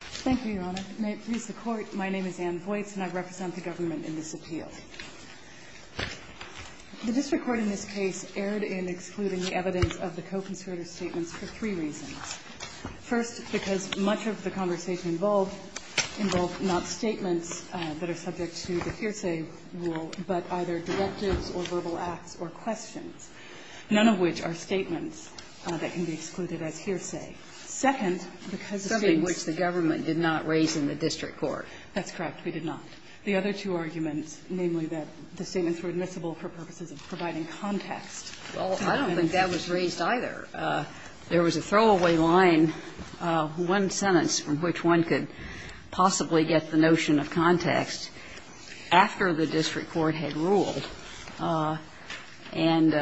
Thank you, Your Honor. May it please the Court, my name is Anne Voitz and I represent the government in this appeal. The district court in this case erred in excluding the evidence of the co-conservator statements for three reasons. First, because much of the conversation involved not statements that are subject to the hearsay rule, but either directives or verbal acts or questions, none of which are statements that can be excluded as hearsay. Second, because of the statements the government did not raise in the district court. That's correct, we did not. The other two arguments, namely that the statements were admissible for purposes of providing context to the evidence. Well, I don't think that was raised either. There was a throwaway line, one sentence from which one could possibly get the notion of context, after the district court had ruled. And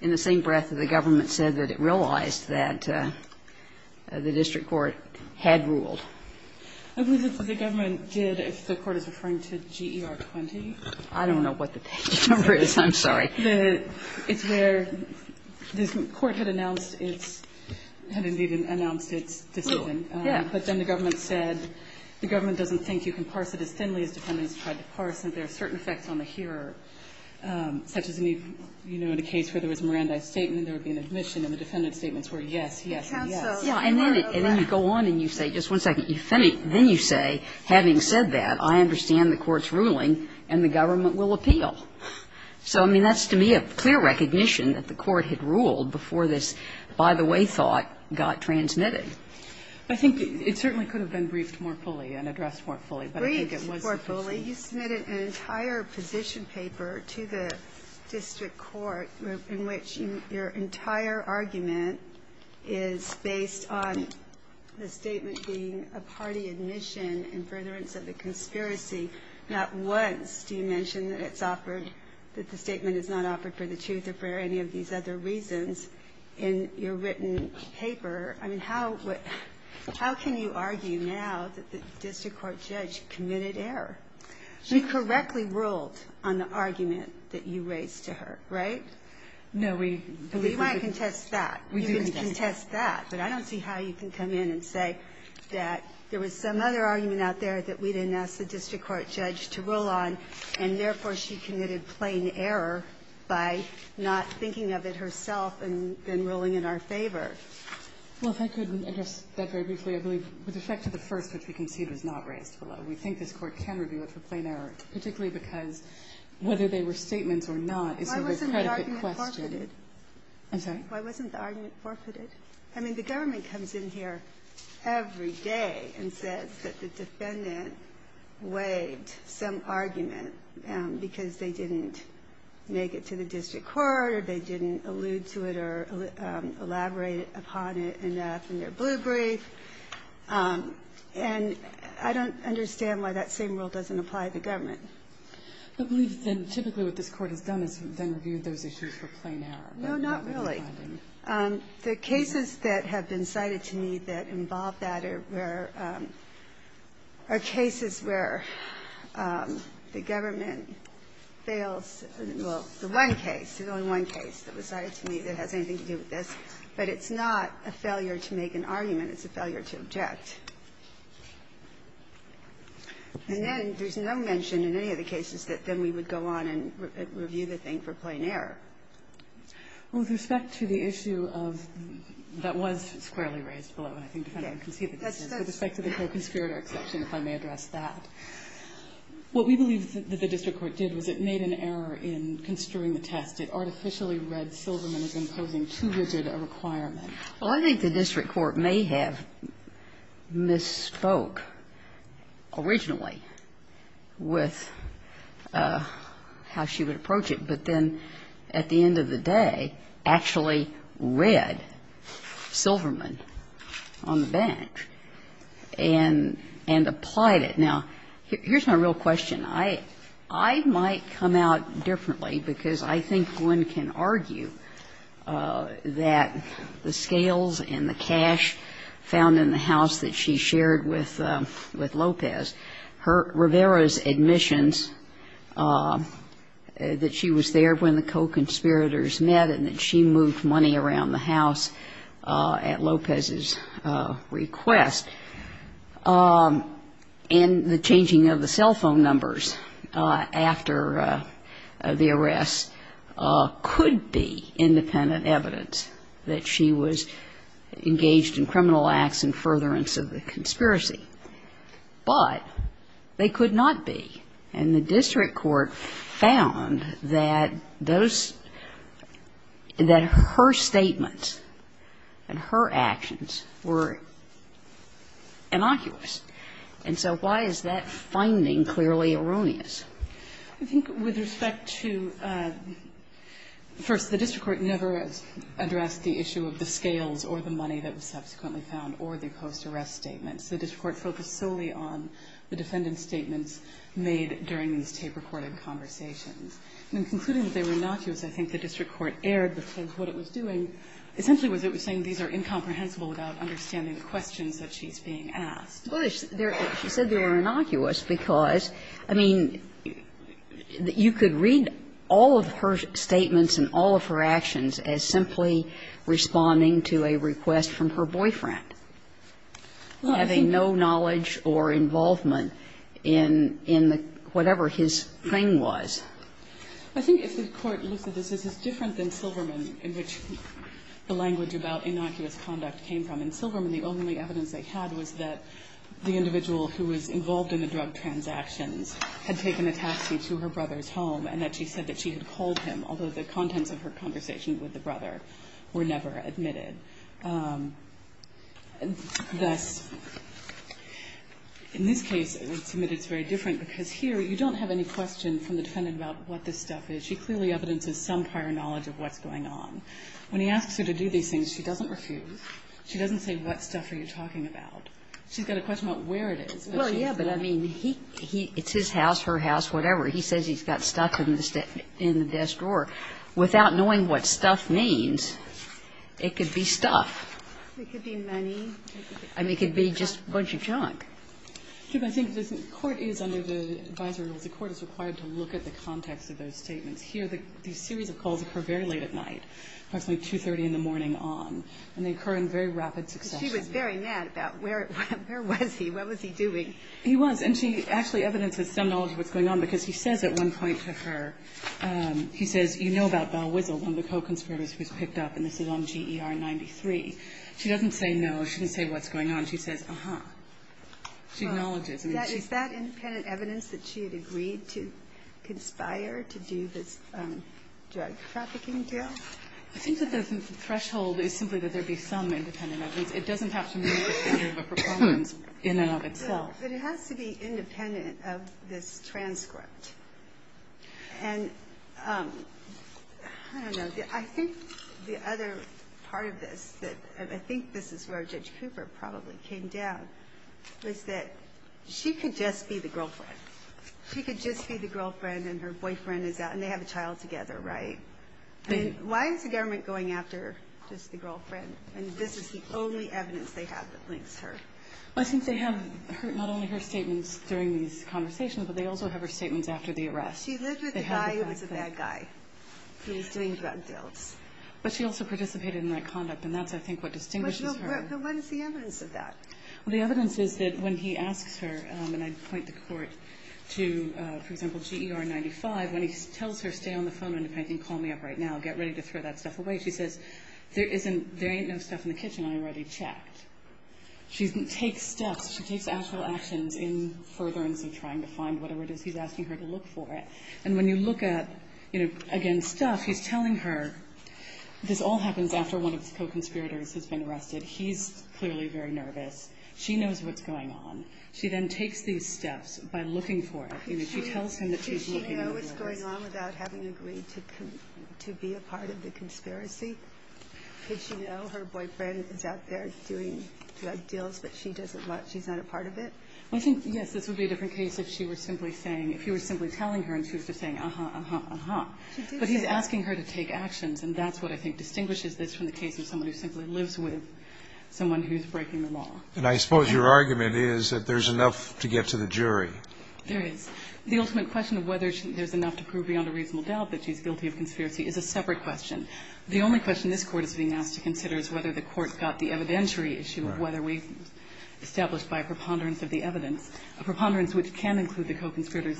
in the same breath, the government said that it realized that the district court had ruled. I believe that the government did, if the Court is referring to GER 20. I don't know what the page number is, I'm sorry. It's where the court had announced its decision. Yeah. But then the government said the government doesn't think you can parse it as thinly as defendants tried to parse it. There are certain effects on the hearer, such as, you know, in a case where there was a Mirandai statement, there would be an admission, and the defendant's statements were yes, yes, and yes. And then you go on and you say, just one second, then you say, having said that, I understand the court's ruling and the government will appeal. So, I mean, that's to me a clear recognition that the court had ruled before this by-the-way thought got transmitted. I think it certainly could have been briefed more fully and addressed more fully. But I think it was the position. Breyer, you submitted an entire position paper to the district court in which your entire argument is based on the statement being a party admission in furtherance of the conspiracy. Not once do you mention that it's offered, that the statement is not offered for the truth or for any of these other reasons in your written paper. I mean, how can you argue now that the district court judge committed error? She correctly ruled on the argument that you raised to her, right? No, we believe we did. We might contest that. We do contest that. But I don't see how you can come in and say that there was some other argument out there that we didn't ask the district court judge to rule on, and therefore she committed plain error by not thinking of it herself and then ruling in our favor. Well, if I could address that very briefly, I believe with respect to the first which we concede was not raised below, we think this Court can review it for plain error, particularly because whether they were statements or not is a very credicted question. I'm sorry? Why wasn't the argument forfeited? I mean, the government comes in here every day and says that the defendant waived some argument because they didn't make it to the district court or they didn't allude to it or elaborate upon it enough in their blue brief. And I don't understand why that same rule doesn't apply to the government. But we think typically what this Court has done is then reviewed those issues for plain error. No, not really. The cases that have been cited to me that involve that are where – are cases where the government fails – well, the one case, the only one case that was cited to me that has anything to do with this, but it's not a failure to make an argument. It's a failure to object. And then there's no mention in any of the cases that then we would go on and review the thing for plain error. Well, with respect to the issue of – that was squarely raised below, and I think the defendant can see that this is, with respect to the co-conspirator exception, if I may address that, what we believe that the district court did was it made an error in construing the test. It artificially read Silverman as imposing too rigid a requirement. Well, I think the district court may have misspoke originally with how she would approach it, but then at the end of the day actually read Silverman on the bench. And – and applied it. Now, here's my real question. I might come out differently because I think one can argue that the scales and the cash found in the house that she shared with Lopez, Rivera's admissions that she was there when the co-conspirators met and that she moved money around the house at Lopez's request, and the changing of the cell phone numbers after the arrest could be independent evidence that she was engaged in criminal acts and furtherance of the conspiracy, but they could not be. And the district court found that those – that her statements and her actions were innocuous, and so why is that finding clearly erroneous? I think with respect to – first, the district court never addressed the issue of the scales or the money that was subsequently found or the post-arrest statements. The district court focused solely on the defendant's statements made during these tape-recorded conversations. And in concluding that they were innocuous, I think the district court erred because what it was doing essentially was it was saying these are incomprehensible without understanding the questions that she's being asked. Well, she said they were innocuous because, I mean, you could read all of her statements and all of her actions as simply responding to a request from her boyfriend. And so I think the district court was not aware of that. Having no knowledge or involvement in the – whatever his claim was. I think if the court looks at this, this is different than Silverman, in which the language about innocuous conduct came from. In Silverman, the only evidence they had was that the individual who was involved in the drug transactions had taken a taxi to her brother's home and that she said that she had called him, although the contents of her conversation with the brother were never admitted. Thus, in this case, it's very different because here you don't have any question from the defendant about what this stuff is. She clearly evidences some prior knowledge of what's going on. When he asks her to do these things, she doesn't refuse. She doesn't say, what stuff are you talking about? She's got a question about where it is. But she's not going to say it. Well, yeah, but, I mean, he – it's his house, her house, whatever. He says he's got stuff in the desk drawer. Without knowing what stuff means, it could be stuff. It could be money. I mean, it could be just a bunch of junk. I think the court is under the advisory rules. The court is required to look at the context of those statements. Here, the series of calls occur very late at night, approximately 2.30 in the morning on, and they occur in very rapid succession. She was very mad about where was he? What was he doing? He was. And she actually evidences some knowledge of what's going on, because he says at one point to her, he says, you know about Val Wiesel, one of the co-conspirators who was picked up, and this is on GER 93. She doesn't say no. She doesn't say what's going on. She says, uh-huh. She acknowledges. I mean, she's – Is that independent evidence that she had agreed to conspire to do this drug trafficking deal? I think that the threshold is simply that there be some independent evidence. It doesn't have to mean that it's part of a proponents in and of itself. But it has to be independent of this transcript. And I don't know. I think the other part of this that – and I think this is where Judge Cooper probably came down, was that she could just be the girlfriend. She could just be the girlfriend, and her boyfriend is out, and they have a child together, right? And why is the government going after just the girlfriend, and this is the only evidence they have that links her? Well, I think they have not only her statements during these conversations, but they also have her statements after the arrest. She lived with a guy who was a bad guy who was doing drug deals. But she also participated in that conduct, and that's, I think, what distinguishes her. But what is the evidence of that? Well, the evidence is that when he asks her – and I'd point the court to, for example, GER 95 – when he tells her, stay on the phone, independent, and call me up right now. Get ready to throw that stuff away. She says, there isn't – there ain't no stuff in the kitchen I already checked. She takes steps. She takes actual actions in furtherance of trying to find whatever it is he's asking her to look for it. And when you look at, you know, again, stuff, he's telling her, this all happens after one of his co-conspirators has been arrested. He's clearly very nervous. She knows what's going on. She then takes these steps by looking for it. You know, she tells him that she's looking for this. Could she know what's going on without having agreed to be a part of the conspiracy? Could she know her boyfriend is out there doing drug deals, but she doesn't want – she's not a part of it? I think, yes, this would be a different case if she were simply saying – if he were simply telling her and she was just saying, uh-huh, uh-huh, uh-huh. But he's asking her to take actions, and that's what I think distinguishes this from the case of someone who simply lives with someone who's breaking the law. And I suppose your argument is that there's enough to get to the jury. There is. The ultimate question of whether there's enough to prove beyond a reasonable doubt that she's guilty of conspiracy is a separate question. The only question this Court is being asked to consider is whether the Court got the evidentiary issue of whether we've established by a preponderance of the evidence a preponderance which can include the co-conspirators'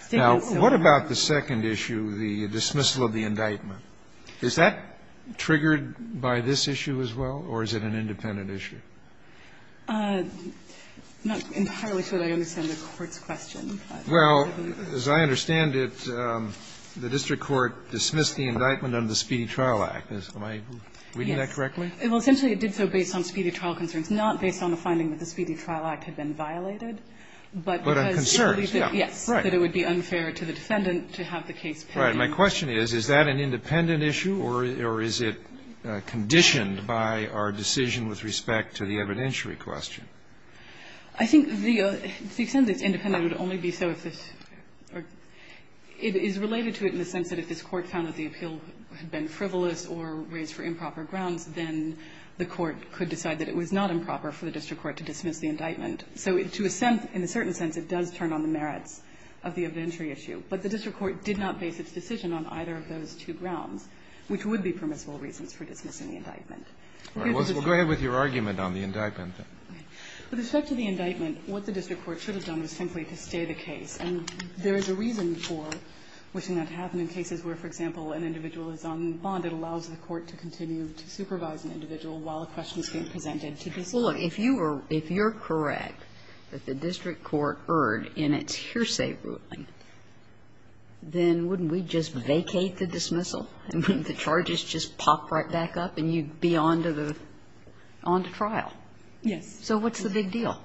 statements. Now, what about the second issue, the dismissal of the indictment? Is that triggered by this issue as well, or is it an independent issue? Not entirely sure that I understand the Court's question. Well, as I understand it, the district court dismissed the indictment under the Speedy Trial Act. Am I reading that correctly? Yes. Well, essentially it did so based on Speedy Trial concerns, not based on the finding that the Speedy Trial Act had been violated, but because it believed that, yes, that it would be unfair to the defendant to have the case pending. Right. My question is, is that an independent issue, or is it conditioned by our decision with respect to the evidentiary question? I think the extent that it's independent would only be so if this or it is related to it in the sense that if this Court found that the appeal had been frivolous or raised for improper grounds, then the Court could decide that it was not improper for the district court to dismiss the indictment. So to a sense, in a certain sense, it does turn on the merits of the evidentiary issue, but the district court did not base its decision on either of those two grounds, which would be permissible reasons for dismissing the indictment. Well, go ahead with your argument on the indictment. With respect to the indictment, what the district court should have done was simply to stay the case, and there is a reason for wishing that to happen in cases where, for example, an individual is on bond, it allows the court to continue to supervise an individual while a question is being presented to the district court. Well, look, if you were, if you're correct that the district court erred in its hearsay ruling, then wouldn't we just vacate the dismissal? I mean, the charges just pop right back up and you'd be on to the, on to trial. Yes. So what's the big deal?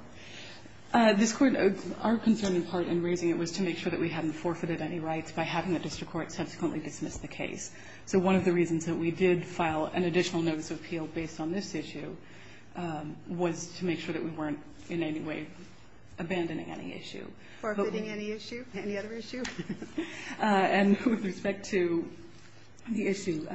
This Court, our concern in part in raising it was to make sure that we hadn't forfeited any rights by having the district court subsequently dismiss the case. So one of the reasons that we did file an additional notice of appeal based on this issue was to make sure that we weren't in any way abandoning any issue. Forfeiting any issue? Any other issue? And with respect to the issue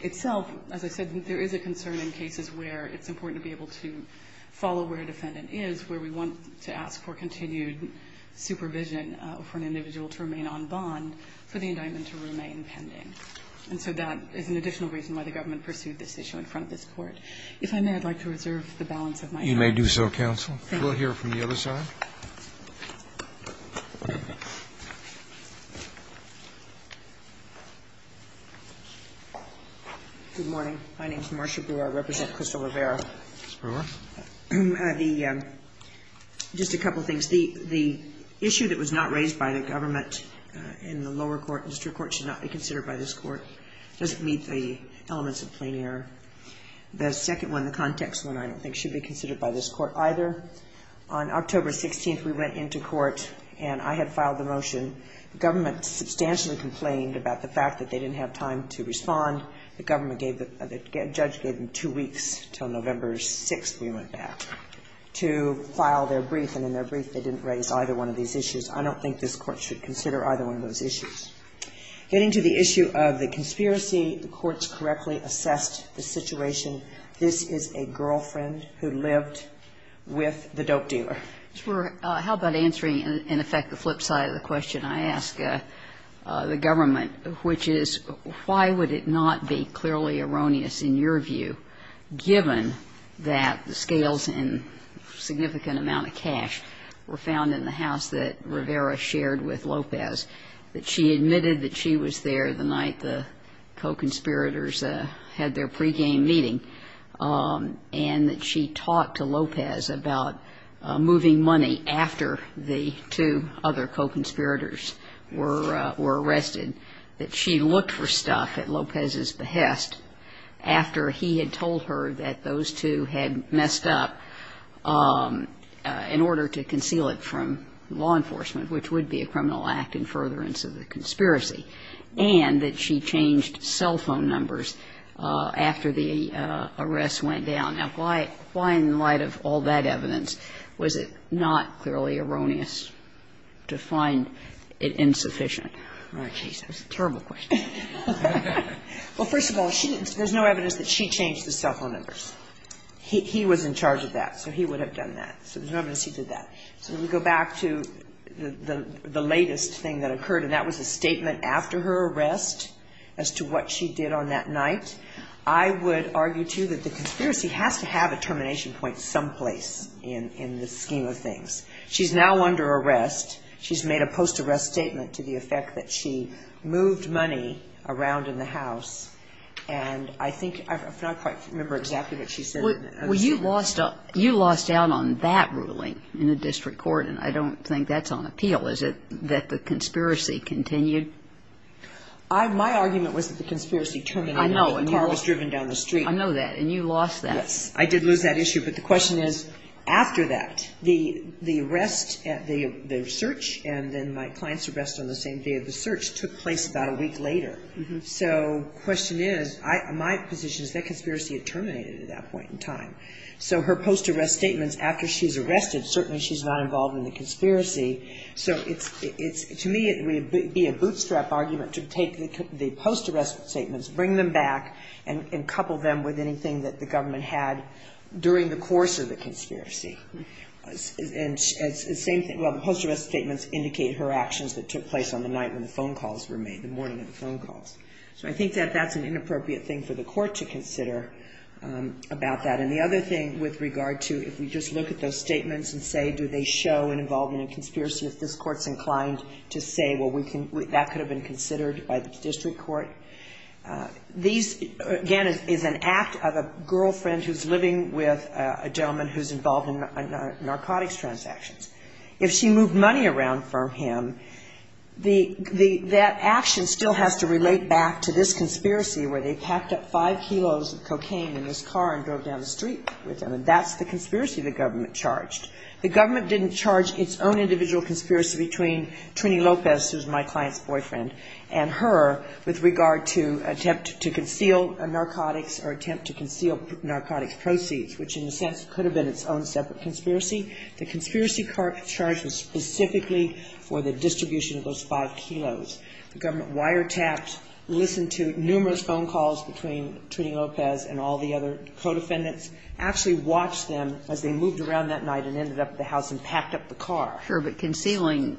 itself, as I said, there is a concern in cases where it's important to be able to follow where a defendant is, where we want to ask for continued supervision for an individual to remain on bond for the indictment to remain pending. And so that is an additional reason why the government pursued this issue in front of this Court. If I may, I'd like to reserve the balance of my time. You may do so, counsel. Thank you. We'll hear from the other side. Good morning. My name is Marcia Brewer. I represent Crystal Rivera. Ms. Brewer. Just a couple of things. The issue that was not raised by the government in the lower court, district court, should not be considered by this Court. It doesn't meet the elements of plain error. The second one, the context one, I don't think should be considered by this Court On October 16th, the district court, the district court, the district court, the district court, on October 16th, we went into court and I had filed the motion. The government substantially complained about the fact that they didn't have time to respond. The government gave the judge gave them two weeks until November 6th we went back to file their brief. And in their brief, they didn't raise either one of these issues. I don't think this Court should consider either one of those issues. Getting to the issue of the conspiracy, the courts correctly assessed the situation. This is a girlfriend who lived with the dope dealer. Ms. Brewer, how about answering, in effect, the flip side of the question I ask the government, which is why would it not be clearly erroneous in your view, given that the scales and significant amount of cash were found in the house that Rivera shared with Lopez, that she admitted that she was there the night the co-conspirators had their pregame meeting, and that she talked to Lopez about moving money after the two other co-conspirators were arrested, that she looked for stuff at Lopez's behest after he had told her that those two had messed up in order to conceal it from law enforcement, which would be a criminal act in furtherance of the conspiracy, and that she changed cell phone numbers after the arrest went down. Now, why in the light of all that evidence was it not clearly erroneous to find it insufficient? All right. That's a terrible question. Well, first of all, there's no evidence that she changed the cell phone numbers. He was in charge of that, so he would have done that. So there's no evidence he did that. So we go back to the latest thing that occurred, and that was a statement after her arrest as to what she did on that night. I would argue, too, that the conspiracy has to have a termination point someplace in the scheme of things. She's now under arrest. She's made a post-arrest statement to the effect that she moved money around in the house, and I think I don't quite remember exactly what she said. Well, you lost out on that ruling in the district court, and I don't think that's on appeal. Is it that the conspiracy continued? My argument was that the conspiracy terminated when the car was driven down the street. I know that, and you lost that. Yes. I did lose that issue, but the question is, after that, the arrest at the search and then my client's arrest on the same day of the search took place about a week later. So the question is, my position is that conspiracy had terminated at that point in time. So her post-arrest statements after she's arrested, certainly she's not involved in the conspiracy. So it's, to me, it would be a bootstrap argument to take the post-arrest statements, bring them back, and couple them with anything that the government had during the course of the conspiracy. And same thing, well, the post-arrest statements indicate her actions that took place on the night when the phone calls were made, the morning of the phone calls. So I think that that's an inappropriate thing for the court to consider about that. And the other thing with regard to if we just look at those statements and say, do they show an involvement in conspiracy if this court's inclined to say, well, that could have been considered by the district court. These, again, is an act of a girlfriend who's living with a gentleman who's involved in narcotics transactions. If she moved money around from him, that action still has to relate back to this conspiracy where they packed up five kilos of cocaine in his car and drove down the street with him. And that's the conspiracy the government charged. The government didn't charge its own individual conspiracy between Trini Lopez, who's my client's boyfriend, and her with regard to attempt to conceal narcotics or attempt to conceal narcotics proceeds, which, in a sense, could have been its own separate conspiracy. The conspiracy charge was specifically for the distribution of those five kilos. The government wiretapped, listened to numerous phone calls between Trini Lopez and all the other co-defendants, actually watched them as they moved around that night and ended up at the house and packed up the car. But concealing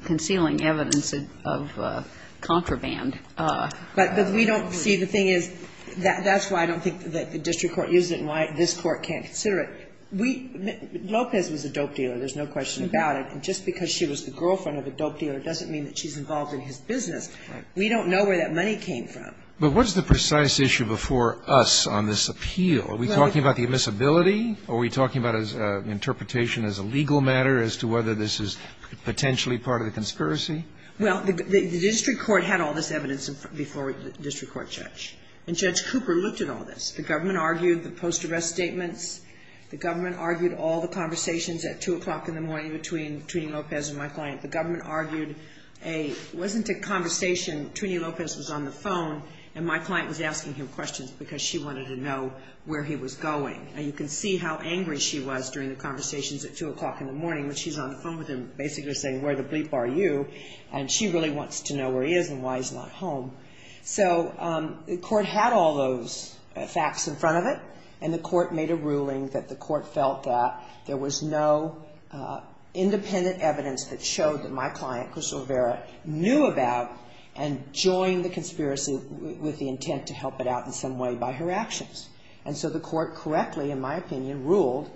evidence of contraband. But we don't see the thing is, that's why I don't think that the district court used it and why this court can't consider it. Lopez was a dope dealer. There's no question about it. And just because she was the girlfriend of a dope dealer doesn't mean that she's involved in his business. We don't know where that money came from. But what's the precise issue before us on this appeal? Are we talking about the admissibility? Are we talking about an interpretation as a legal matter as to whether this is potentially part of the conspiracy? Well, the district court had all this evidence before the district court judge. And Judge Cooper looked at all this. The government argued the post-arrest statements. The government argued all the conversations at 2 o'clock in the morning between Trini Lopez and my client. The government argued a ñ it wasn't a conversation. Trini Lopez was on the phone, and my client was asking him questions because she wanted to know where he was going. And you can see how angry she was during the conversations at 2 o'clock in the morning when she's on the phone with him basically saying, where the bleep are you? And she really wants to know where he is and why he's not home. So the court had all those facts in front of it, and the court made a ruling that the court felt that there was no independent evidence that showed that my client, Chris O'Vera, knew about and joined the conspiracy with the intent to help it out in some way by her actions. And so the court correctly, in my opinion, ruled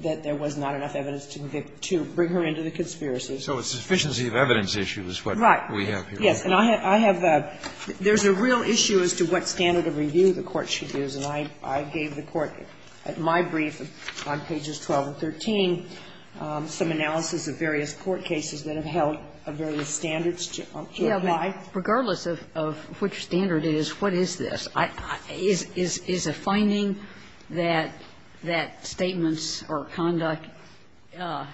that there was not enough evidence to bring her into the conspiracy. So a sufficiency of evidence issue is what we have here. Right. Yes. And I have a ñ there's a real issue as to what standard of review the court should use. And I gave the court at my brief on pages 12 and 13 some analysis of various court cases that have held various standards to apply. But regardless of which standard it is, what is this? Is a finding that statements or conduct are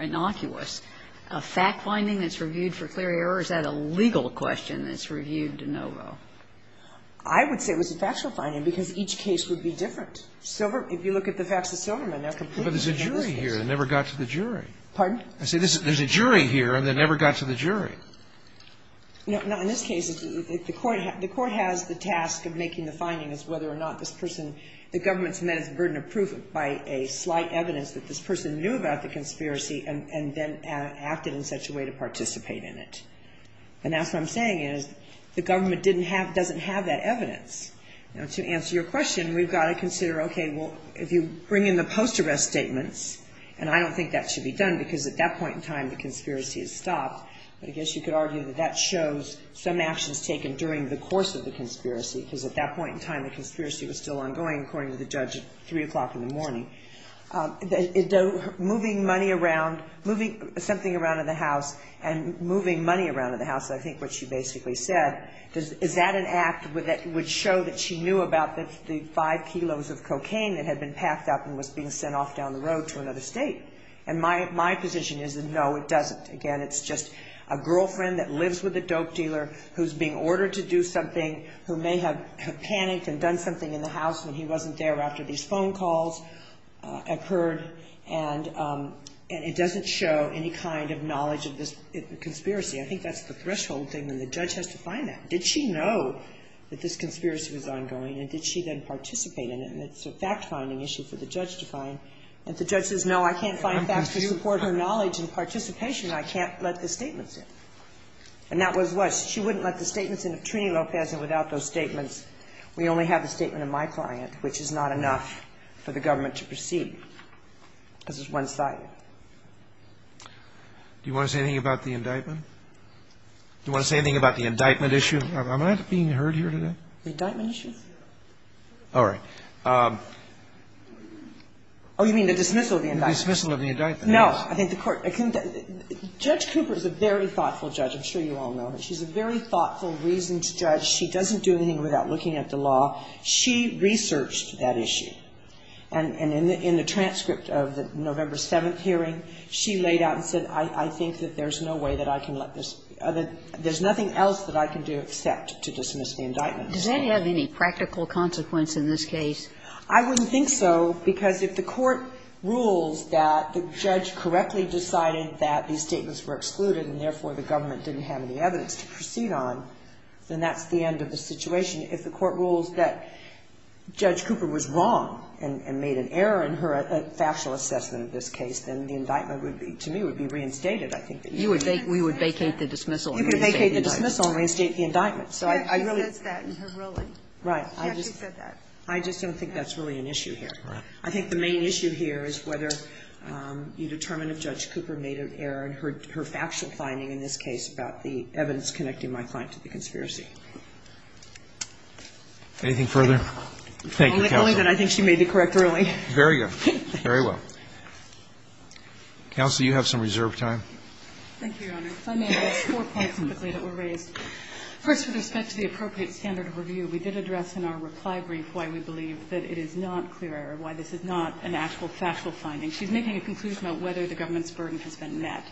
innocuous a fact finding that's reviewed for clear error, or is that a legal question that's reviewed de novo? I would say it was a factual finding, because each case would be different. If you look at the facts of Silverman, they're completely different. But there's a jury here that never got to the jury. Pardon? No. In this case, the court has the task of making the finding as whether or not this person ñ the government's met its burden of proof by a slight evidence that this person knew about the conspiracy and then acted in such a way to participate in it. And that's what I'm saying is the government didn't have ñ doesn't have that evidence. Now, to answer your question, we've got to consider, okay, well, if you bring in the post-arrest statements ñ and I don't think that should be done, because at that point in time, the conspiracy has stopped. But I guess you could argue that that shows some actions taken during the course of the conspiracy, because at that point in time, the conspiracy was still ongoing, according to the judge at 3 o'clock in the morning. Moving money around ñ moving something around in the House and moving money around in the House, I think what she basically said, is that an act that would show that she knew about the 5 kilos of cocaine that had been packed up and was being sent off down the road to another state? And my position is that, no, it doesn't. Again, it's just a girlfriend that lives with a dope dealer who's being ordered to do something, who may have panicked and done something in the House when he wasn't there after these phone calls occurred, and it doesn't show any kind of knowledge of this conspiracy. I think that's the threshold thing, and the judge has to find that. Did she know that this conspiracy was ongoing, and did she then participate in it? And it's a fact-finding issue for the judge to find. If the judge says, no, I can't find facts to support her knowledge and participation, I can't let the statements in. And that was what she wouldn't let the statements in of Trini Lopez, and without those statements, we only have the statement of my client, which is not enough for the government to proceed, because it's one-sided. Do you want to say anything about the indictment? Do you want to say anything about the indictment issue? Am I not being heard here today? The indictment issue? All right. Oh, you mean the dismissal of the indictment? The dismissal of the indictment. No. I think the Court can do that. Judge Cooper is a very thoughtful judge. I'm sure you all know her. She's a very thoughtful, reasoned judge. She doesn't do anything without looking at the law. She researched that issue. And in the transcript of the November 7th hearing, she laid out and said, I think that there's no way that I can let this other – there's nothing else that I can do except to dismiss the indictment. Does that have any practical consequence in this case? I wouldn't think so, because if the Court rules that the judge correctly decided that these statements were excluded and, therefore, the government didn't have any evidence to proceed on, then that's the end of the situation. If the Court rules that Judge Cooper was wrong and made an error in her factual assessment of this case, then the indictment would be, to me, would be reinstated, We would vacate the dismissal and reinstate the indictment. You could vacate the dismissal and reinstate the indictment. So I really – She actually says that in her ruling. Right. She actually said that. I just don't think that's really an issue here. Right. I think the main issue here is whether you determine if Judge Cooper made an error in her factual finding in this case about the evidence connecting my client to the conspiracy. Anything further? Thank you, Counsel. Only that I think she made the correct ruling. Very good. Very well. Counsel, you have some reserved time. Thank you, Your Honor. If I may, I have four points quickly that were raised. First, with respect to the appropriate standard of review, we did address in our reply brief why we believe that it is not clear, why this is not an actual factual finding. She's making a conclusion about whether the government's burden has been met.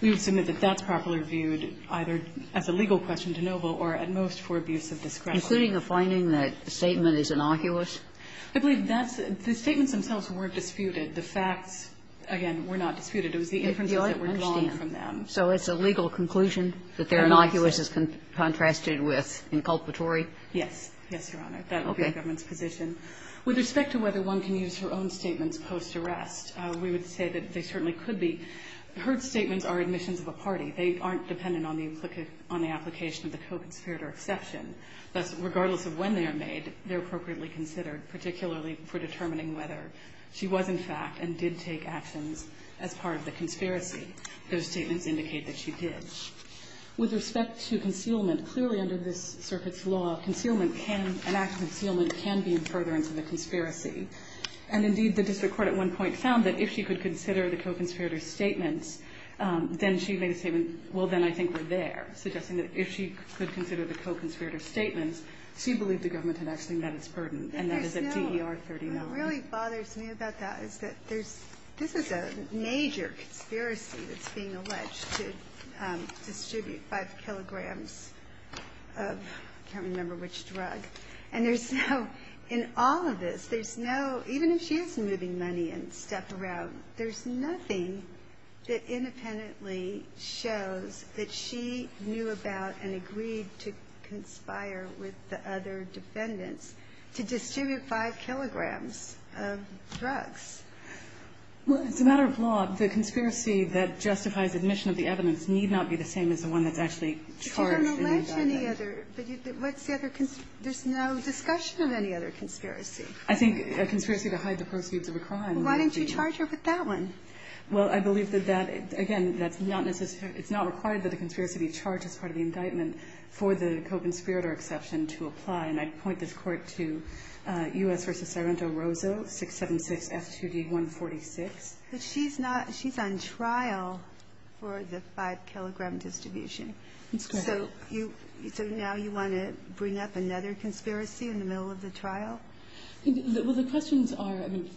We would submit that that's properly viewed either as a legal question to Novo or at most for abuse of discretion. Including the finding that the statement is innocuous? I believe that's – the statements themselves were disputed. The facts, again, were not disputed. It was the inferences that were drawn from them. So it's a legal conclusion that they're innocuous as contrasted with inculpatory? Yes. Yes, Your Honor. That would be the government's position. Okay. With respect to whether one can use her own statements post-arrest, we would say that they certainly could be. Her statements are admissions of a party. They aren't dependent on the application of the co-conspirator exception. Thus, regardless of when they are made, they're appropriately considered, particularly for determining whether she was, in fact, and did take actions as part of the conspiracy. Those statements indicate that she did. With respect to concealment, clearly under this circuit's law, concealment can – an act of concealment can be inferred into the conspiracy. And, indeed, the district court at one point found that if she could consider the co-conspirator statements, then she made a statement, well, then I think we're there, suggesting that if she could consider the co-conspirator statements, she believed the government had actually met its burden, and that is at DER 39. And what really bothers me about that is that there's – this is a major conspiracy that's being alleged to distribute 5 kilograms of – I can't remember which drug. And there's no – in all of this, there's no – even if she is moving money and stuff around, there's nothing that independently shows that she knew about and agreed to conspire with the other defendants to distribute 5 kilograms of drugs. Well, it's a matter of law. The conspiracy that justifies admission of the evidence need not be the same as the one that's actually charged in the indictment. But you don't allege any other – what's the other – there's no discussion of any other conspiracy. I think a conspiracy to hide the proceeds of a crime. Well, why didn't you charge her with that one? Well, I believe that that – again, that's not necessary – it's not required that a conspiracy be charged as part of the indictment for the co-conspirator exception to apply. And I'd point this Court to U.S. v. Sorrento-Roso, 676 F2D 146. But she's not – she's on trial for the 5-kilogram distribution. Let's go ahead. So you – so now you want to bring up another conspiracy in the middle of the trial? Well, the questions are – I mean,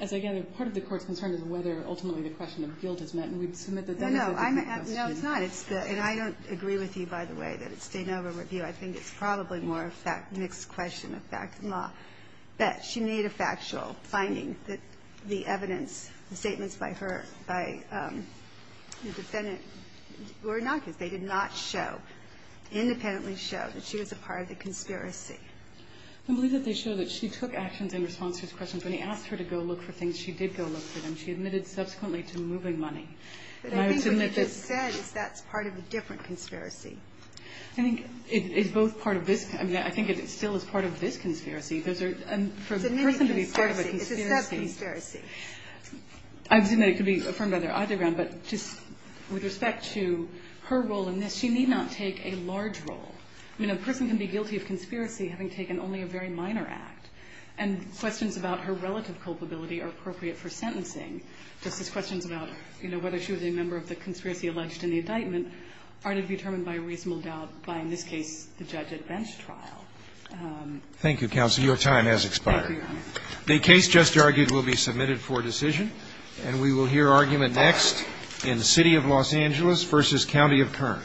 as I gather, part of the Court's concern is whether, ultimately, the question of guilt is met. And we'd submit that that is a – Well, I'm – no, it's not. It's the – and I don't agree with you, by the way, that it's Stanova review. I think it's probably more a mixed question of fact than law. But she made a factual finding that the evidence, the statements by her – by the defendant were innocuous. They did not show – independently showed that she was a part of the conspiracy. I believe that they show that she took actions in response to his questions. When he asked her to go look for things, she did go look for them. She admitted subsequently to moving money. But I think what you just said is that's part of a different conspiracy. I think it's both part of this – I mean, I think it still is part of this conspiracy. There's a – for a person to be part of a conspiracy – It's a mixed conspiracy. It's a sub-conspiracy. I assume that it could be affirmed by their ideogram. But just with respect to her role in this, she need not take a large role. I mean, a person can be guilty of conspiracy having taken only a very minor act. And questions about her relative culpability are appropriate for sentencing, just as questions about, you know, whether she was a member of the conspiracy alleged in the indictment are to be determined by reasonable doubt by, in this case, the judge at bench trial. Thank you, counsel. Your time has expired. Thank you, Your Honor. The case just argued will be submitted for decision, and we will hear argument next in the City of Los Angeles v. County of Kern.